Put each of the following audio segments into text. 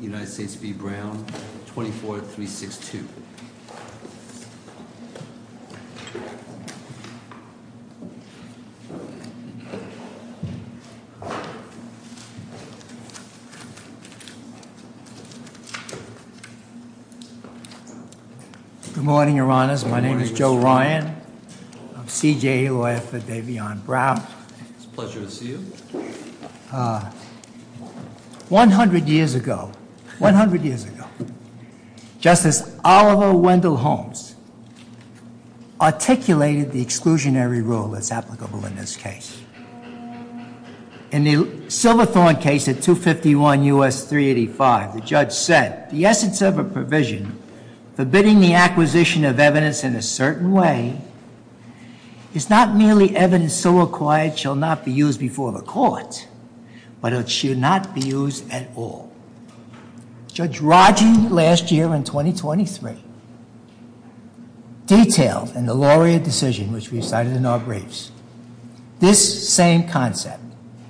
United States v. Brown, 24-362. Good morning, Your Honors. My name is Joe Ryan. I'm CJA lawyer for Davion Brown. It's a pleasure to see you. 100 years ago, 100 years ago, Justice Oliver Wendell Holmes articulated the exclusionary rule that's applicable in this case. In the Silverthorne case at 251 U.S. 385, the judge said, the essence of a provision forbidding the acquisition of evidence in a certain way is not merely evidence so acquired shall not be used before the court, but it should not be used at all. Judge Raji, last year in 2023, detailed in the Lawyer Decision, which we cited in our briefs, this same concept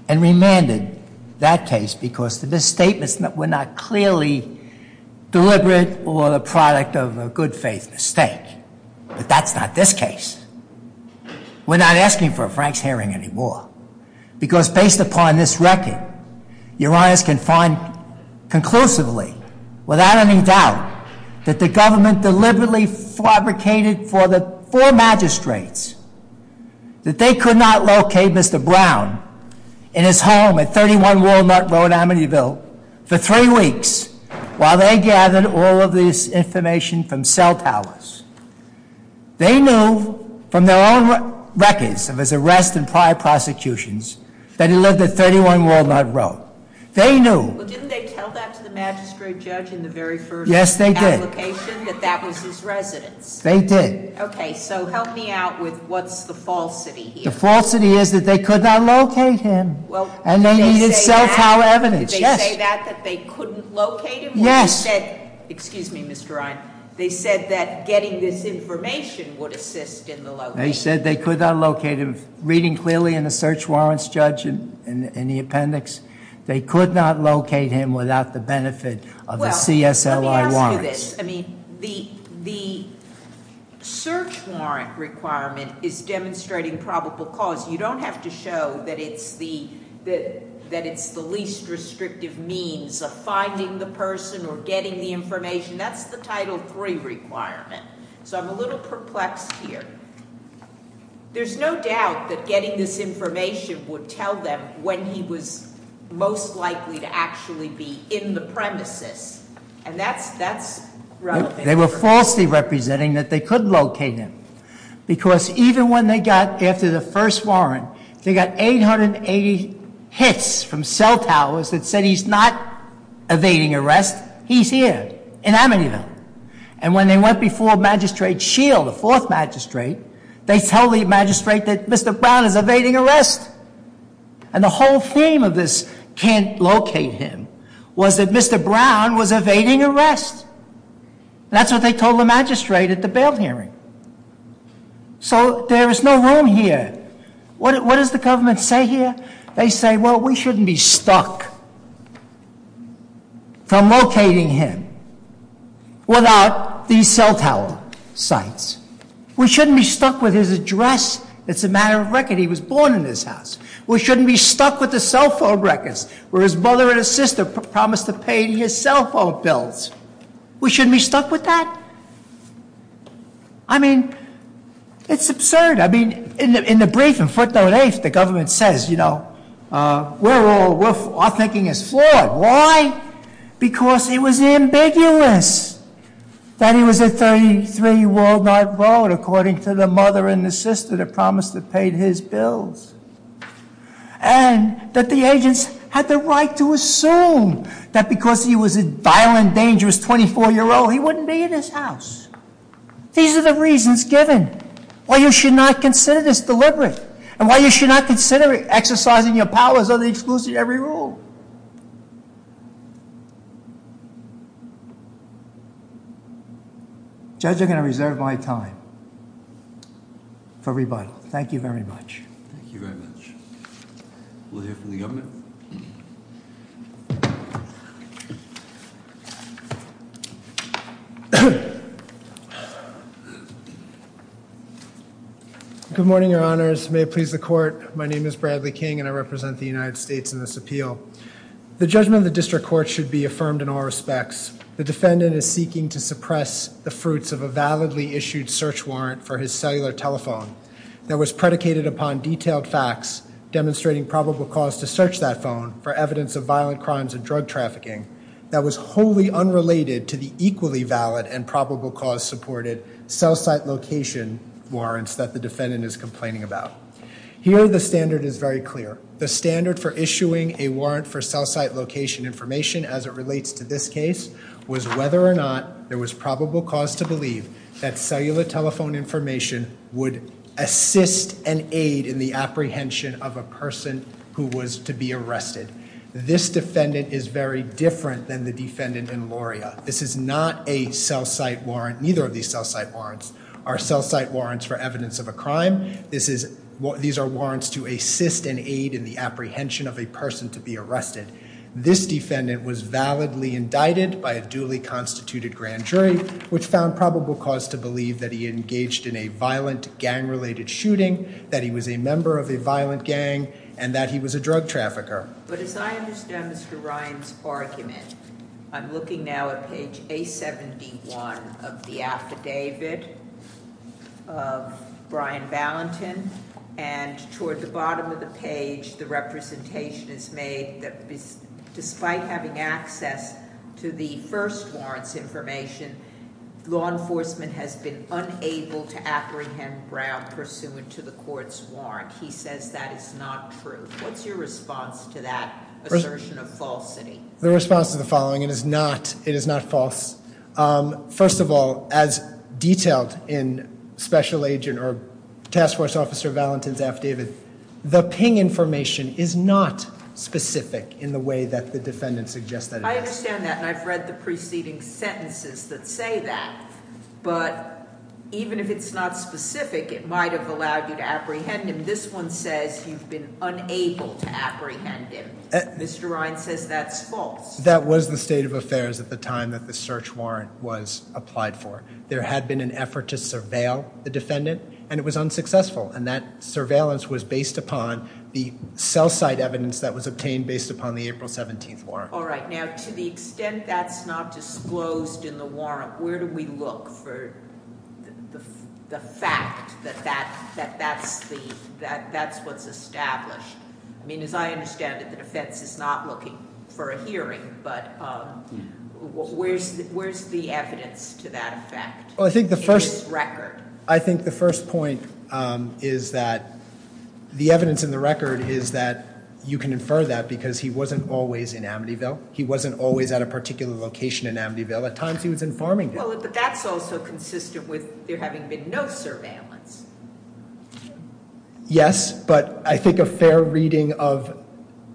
and remanded that case because the misstatements were not clearly deliberate or the product of a good faith mistake, but that's not this case. We're not asking for a Frank's Hearing anymore because based upon this record, Your Honors can find conclusively without any doubt that the government deliberately fabricated for the four magistrates that they could not locate Mr. Brown in his home at 31 Walnut Road, Amityville for three weeks while they gathered all of this information from cell towers. They knew from their own records of his arrest and prior prosecutions that he lived at 31 Walnut Road. They knew. Well, didn't they tell that to the magistrate judge in the very first application that that was his residence? They did. Okay, so help me out with what's the falsity here? The falsity is that they could not locate him and they needed cell tower evidence. Did they say that, that they couldn't locate him? Yes. They said, excuse me, Mr. Ryan, they said that getting this information would assist in the location. They said they could not locate him. Reading clearly in the search warrants judge in the appendix, they could not locate him without the benefit of the CSLI warrants. Well, let me ask you this, I mean, the search warrant requirement is demonstrating probable cause. You don't have to show that it's the least restrictive means of finding the person or getting the information, that's the title three requirement, so I'm a little perplexed here. There's no doubt that getting this information would tell them when he was most likely to actually be in the premises. And that's relevant. They were falsely representing that they could locate him. Because even when they got, after the first warrant, they got 880 hits from cell towers that said he's not evading arrest. He's here in Amityville. And when they went before Magistrate Shield, the fourth magistrate, they tell the magistrate that Mr. Brown is evading arrest. And the whole theme of this can't locate him was that Mr. Brown was evading arrest. That's what they told the magistrate at the bail hearing. So there is no room here. What does the government say here? They say, well, we shouldn't be stuck from locating him without these cell tower sites. We shouldn't be stuck with his address. It's a matter of record. He was born in this house. We shouldn't be stuck with the cell phone records where his mother and his sister promised to pay him his cell phone bills. We shouldn't be stuck with that? I mean, it's absurd. I mean, in the brief, in footnote eight, the government says, we're all, our thinking is flawed. Why? Because it was ambiguous that he was at 33 Walnut Road according to the mother and the sister that promised to pay his bills, and that the agents had the right to assume that because he was a violent, dangerous 24 year old, he wouldn't be in this house. These are the reasons given. Why you should not consider this deliberate? And why you should not consider exercising your powers under the exclusive every rule? Judge, I'm going to reserve my time for rebuttal. Thank you very much. Thank you very much. We'll hear from the government. Good morning, your honors. May it please the court. My name is Bradley King and I represent the United States in this appeal. The judgment of the district court should be affirmed in all respects. The defendant is seeking to suppress the fruits of a validly issued search warrant for his cellular telephone that was predicated upon detailed facts demonstrating probable cause to search that phone for evidence of violent crimes and drug trafficking that was wholly unrelated to the equally valid and probable cause supported cell site location warrants that the defendant is complaining about. Here the standard is very clear. The standard for issuing a warrant for cell site location information as it relates to this case was whether or not there was probable cause to believe that cellular telephone information would assist and aid in the apprehension of a person who was to be arrested. This defendant is very different than the defendant in Lauria. This is not a cell site warrant, neither of these cell site warrants are cell site warrants for evidence of a crime. These are warrants to assist and aid in the apprehension of a person to be arrested. This defendant was validly indicted by a duly constituted grand jury, which found probable cause to believe that he engaged in a violent gang related shooting, that he was a member of a violent gang, and that he was a drug trafficker. But as I understand Mr. Ryan's argument, I'm looking now at page A71 of the affidavit of Brian Ballentine. And toward the bottom of the page, the representation is made that despite having access to the first warrant's information, law enforcement has been unable to apprehend Brown pursuant to the court's warrant. He says that is not true. What's your response to that assertion of falsity? The response is the following, it is not false. First of all, as detailed in special agent or task force officer Ballentine's affidavit, the ping information is not specific in the way that the defendant suggested. I understand that, and I've read the preceding sentences that say that. But even if it's not specific, it might have allowed you to apprehend him. And this one says you've been unable to apprehend him. Mr. Ryan says that's false. That was the state of affairs at the time that the search warrant was applied for. There had been an effort to surveil the defendant, and it was unsuccessful. And that surveillance was based upon the cell site evidence that was obtained based upon the April 17th warrant. All right, now to the extent that's not disclosed in the warrant, where do we look for the fact that that's what's established? I mean, as I understand it, the defense is not looking for a hearing, but where's the evidence to that effect? In this record? I think the first point is that the evidence in the record is that you can infer that because he wasn't always in Amityville. He wasn't always at a particular location in Amityville. At times, he was in Farmingdale. Well, but that's also consistent with there having been no surveillance. Yes, but I think a fair reading of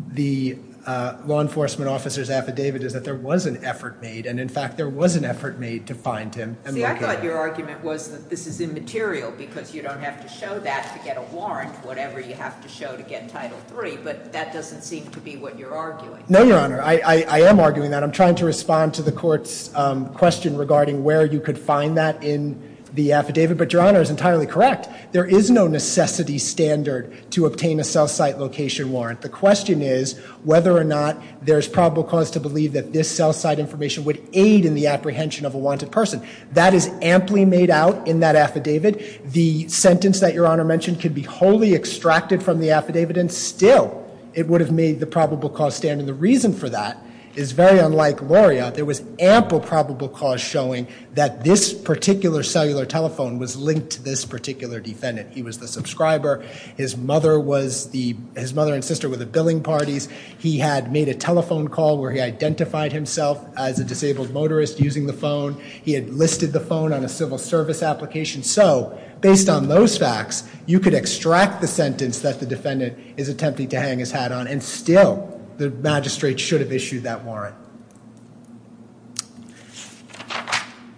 the law enforcement officer's affidavit is that there was an effort made. And in fact, there was an effort made to find him and locate him. See, I thought your argument was that this is immaterial because you don't have to show that to get a warrant, whatever you have to show to get Title III, but that doesn't seem to be what you're arguing. No, Your Honor. I am arguing that. And I'm trying to respond to the court's question regarding where you could find that in the affidavit, but Your Honor is entirely correct. There is no necessity standard to obtain a cell site location warrant. The question is whether or not there's probable cause to believe that this cell site information would aid in the apprehension of a wanted person. That is amply made out in that affidavit. The sentence that Your Honor mentioned could be wholly extracted from the affidavit, and still, it would have made the probable cause stand. And the reason for that is very unlike Loria. There was ample probable cause showing that this particular cellular telephone was linked to this particular defendant. He was the subscriber. His mother and sister were the billing parties. He had made a telephone call where he identified himself as a disabled motorist using the phone. He had listed the phone on a civil service application. So, based on those facts, you could extract the sentence that the defendant is attempting to hang his hat on. And still, the magistrate should have issued that warrant.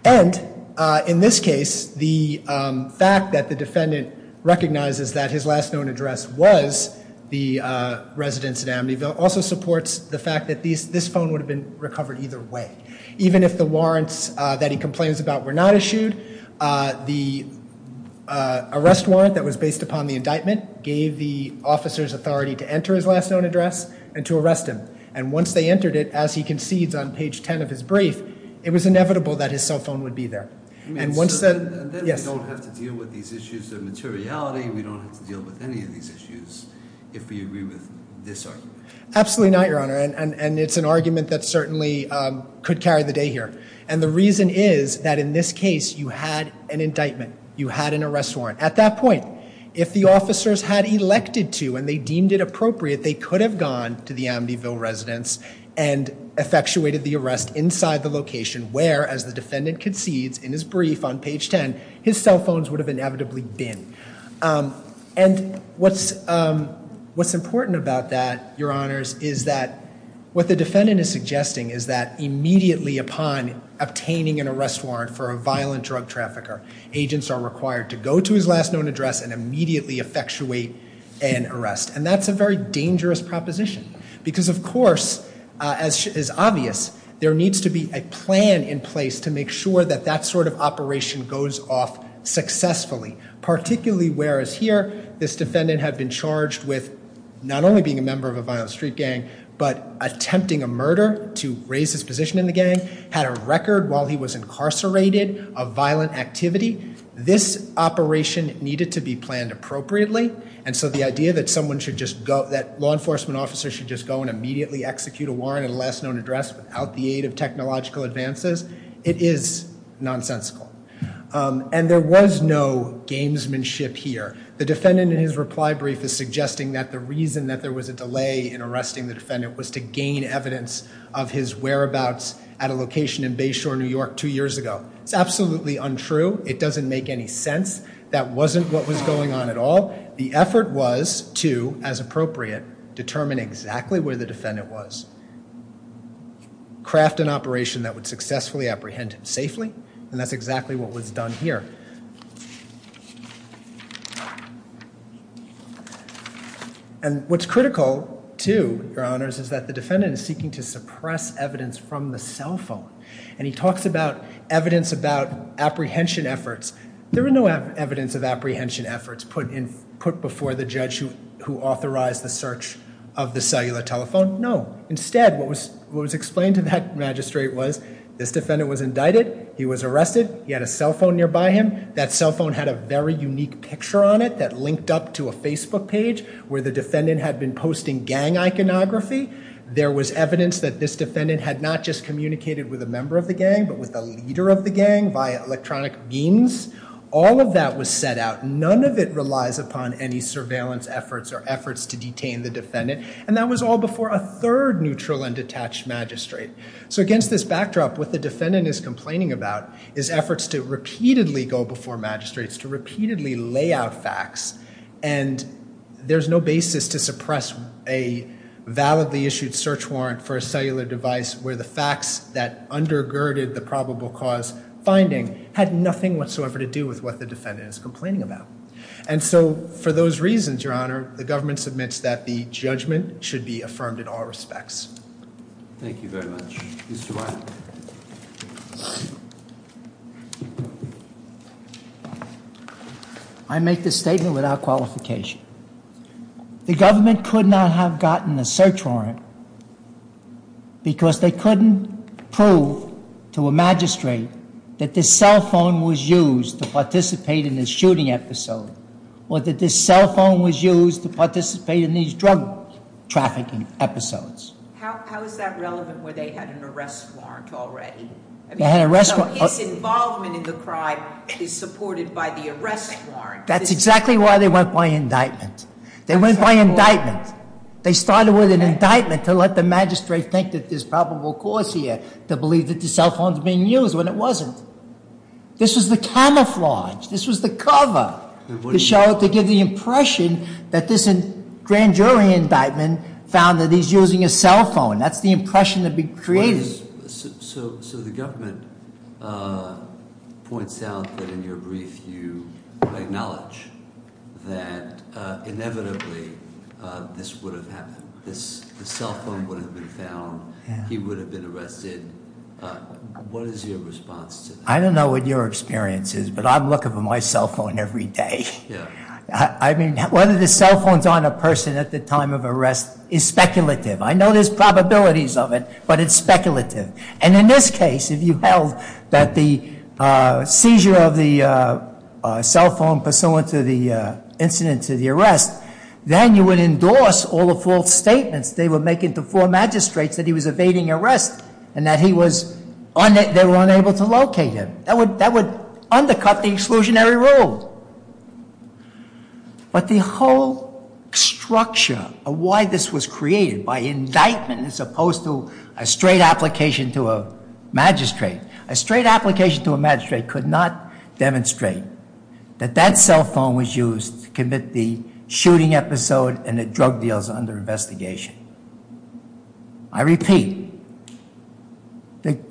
And in this case, the fact that the defendant recognizes that his last known address was the residence in Amityville also supports the fact that this phone would have been recovered either way. Even if the warrants that he complains about were not issued, the arrest warrant that was based upon the indictment gave the officer's authority to enter his last known address and to arrest him. And once they entered it, as he concedes on page ten of his brief, it was inevitable that his cell phone would be there. And once the- Yes. And then we don't have to deal with these issues of materiality, we don't have to deal with any of these issues if we agree with this argument. Absolutely not, Your Honor, and it's an argument that certainly could carry the day here. And the reason is that in this case, you had an indictment, you had an arrest warrant. At that point, if the officers had elected to and they deemed it appropriate, they could have gone to the Amityville residence and effectuated the arrest inside the location. Where, as the defendant concedes in his brief on page ten, his cell phones would have inevitably been. And what's important about that, Your Honors, is that what the defendant is suggesting is that immediately upon obtaining an arrest warrant for a violent drug trafficker, agents are required to go to his last known address and immediately effectuate an arrest. And that's a very dangerous proposition, because of course, as is obvious, there needs to be a plan in place to make sure that that sort of operation goes off successfully. Particularly, whereas here, this defendant had been charged with not only being a member of a violent street gang, but attempting a murder to raise his position in the gang, had a record while he was incarcerated of violent activity. This operation needed to be planned appropriately. And so the idea that someone should just go, that law enforcement officer should just go and immediately execute a warrant at a last known address without the aid of technological advances, it is nonsensical. And there was no gamesmanship here. The defendant in his reply brief is suggesting that the reason that there was a delay in arresting the defendant was to gain evidence of his whereabouts at a location in Bayshore, New York two years ago. It's absolutely untrue. It doesn't make any sense. That wasn't what was going on at all. The effort was to, as appropriate, determine exactly where the defendant was, craft an operation that would successfully apprehend him safely, and that's exactly what was done here. And what's critical, too, your honors, is that the defendant is seeking to suppress evidence from the cell phone. And he talks about evidence about apprehension efforts. There were no evidence of apprehension efforts put before the judge who authorized the search of the cellular telephone, no. Instead, what was explained to that magistrate was, this defendant was indicted, he was arrested, he had a cell phone nearby him. That cell phone had a very unique picture on it that linked up to a Facebook page where the defendant had been posting gang iconography. There was evidence that this defendant had not just communicated with a member of the gang, but with a leader of the gang via electronic means. All of that was set out, none of it relies upon any surveillance efforts or efforts to detain the defendant. And that was all before a third neutral and detached magistrate. So against this backdrop, what the defendant is complaining about is efforts to repeatedly go before magistrates to repeatedly lay out facts. And there's no basis to suppress a validly issued search warrant for a cellular device where the facts that undergirded the probable cause finding had nothing whatsoever to do with what the defendant is complaining about. And so, for those reasons, your honor, the government submits that the judgment should be affirmed in all respects. Thank you very much. Mr. Wiley. I make this statement without qualification. The government could not have gotten a search warrant because they couldn't prove to a magistrate that this cell phone was used to participate in this shooting episode. Or that this cell phone was used to participate in these drug trafficking episodes. How is that relevant where they had an arrest warrant already? I mean, so his involvement in the crime is supported by the arrest warrant. That's exactly why they went by indictment. They went by indictment. They started with an indictment to let the magistrate think that there's probable cause here to believe that the cell phone's being used when it wasn't. This was the camouflage. This was the cover to show, to give the impression that this grand jury indictment found that he's using a cell phone. That's the impression that we created. So the government points out that in your brief you acknowledge that inevitably this would have happened. The cell phone would have been found. He would have been arrested. What is your response to that? I don't know what your experience is, but I'm looking for my cell phone every day. Yeah. I mean, whether the cell phone's on a person at the time of arrest is speculative. I know there's probabilities of it, but it's speculative. And in this case, if you held that the seizure of the cell phone pursuant to the incident, to the arrest, then you would endorse all the false statements they were making to four magistrates that he was evading arrest and that he was, they were unable to locate him. That would undercut the exclusionary rule. But the whole structure of why this was created, by indictment as opposed to a straight application to a magistrate, a straight application to a magistrate could not demonstrate that that cell phone was used to commit the shooting episode and the drug deals under investigation. I repeat,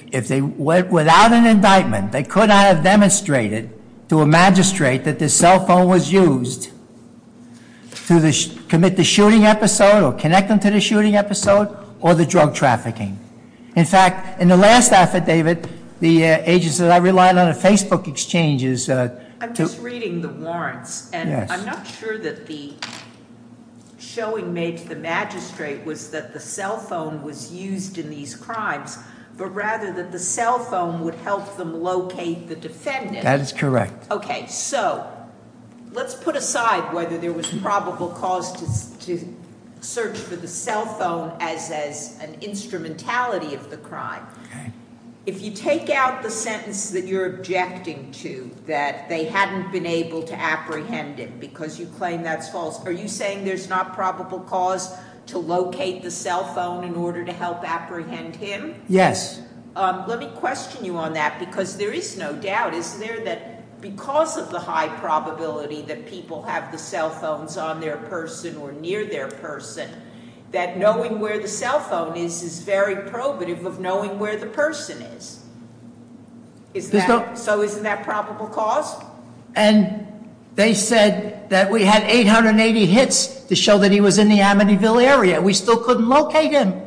if they went without an indictment, they could not have demonstrated to a magistrate that the cell phone was used to commit the shooting episode or connect them to the shooting episode or the drug trafficking. In fact, in the last affidavit, the agents that I relied on at Facebook exchanges- I'm just reading the warrants, and I'm not sure that the showing made to the magistrate was that the cell phone was used in these crimes, but rather that the cell phone would help them locate the defendant. That is correct. Okay, so let's put aside whether there was probable cause to search for the cell phone as an instrumentality of the crime. If you take out the sentence that you're objecting to, that they hadn't been able to apprehend him because you claim that's false. Are you saying there's not probable cause to locate the cell phone in order to help apprehend him? Yes. Let me question you on that, because there is no doubt. Is there that because of the high probability that people have the cell phones on their person or near their person, that knowing where the cell phone is is very probative of knowing where the person is? So isn't that probable cause? And they said that we had 880 hits to show that he was in the Amityville area. We still couldn't locate him.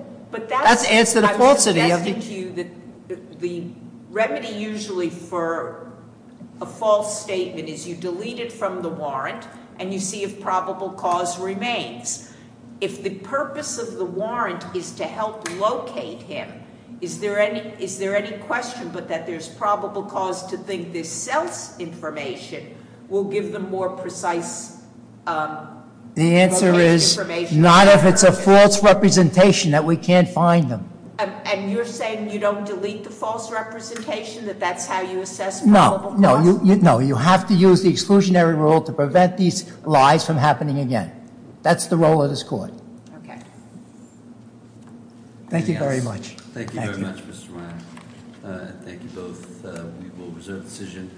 That's answer to falsity. I'm suggesting to you that the remedy usually for a false statement is you delete it from the warrant and you see if probable cause remains. If the purpose of the warrant is to help locate him, is there any question but that there's probable cause to think this cell's information will give them more precise- The answer is not if it's a false representation that we can't find them. And you're saying you don't delete the false representation, that that's how you assess probable cause? No, no, you have to use the exclusionary rule to prevent these lies from happening again. That's the role of this court. Okay. Thank you very much. Thank you very much, Mr. Ryan. Thank you both. We will reserve decision.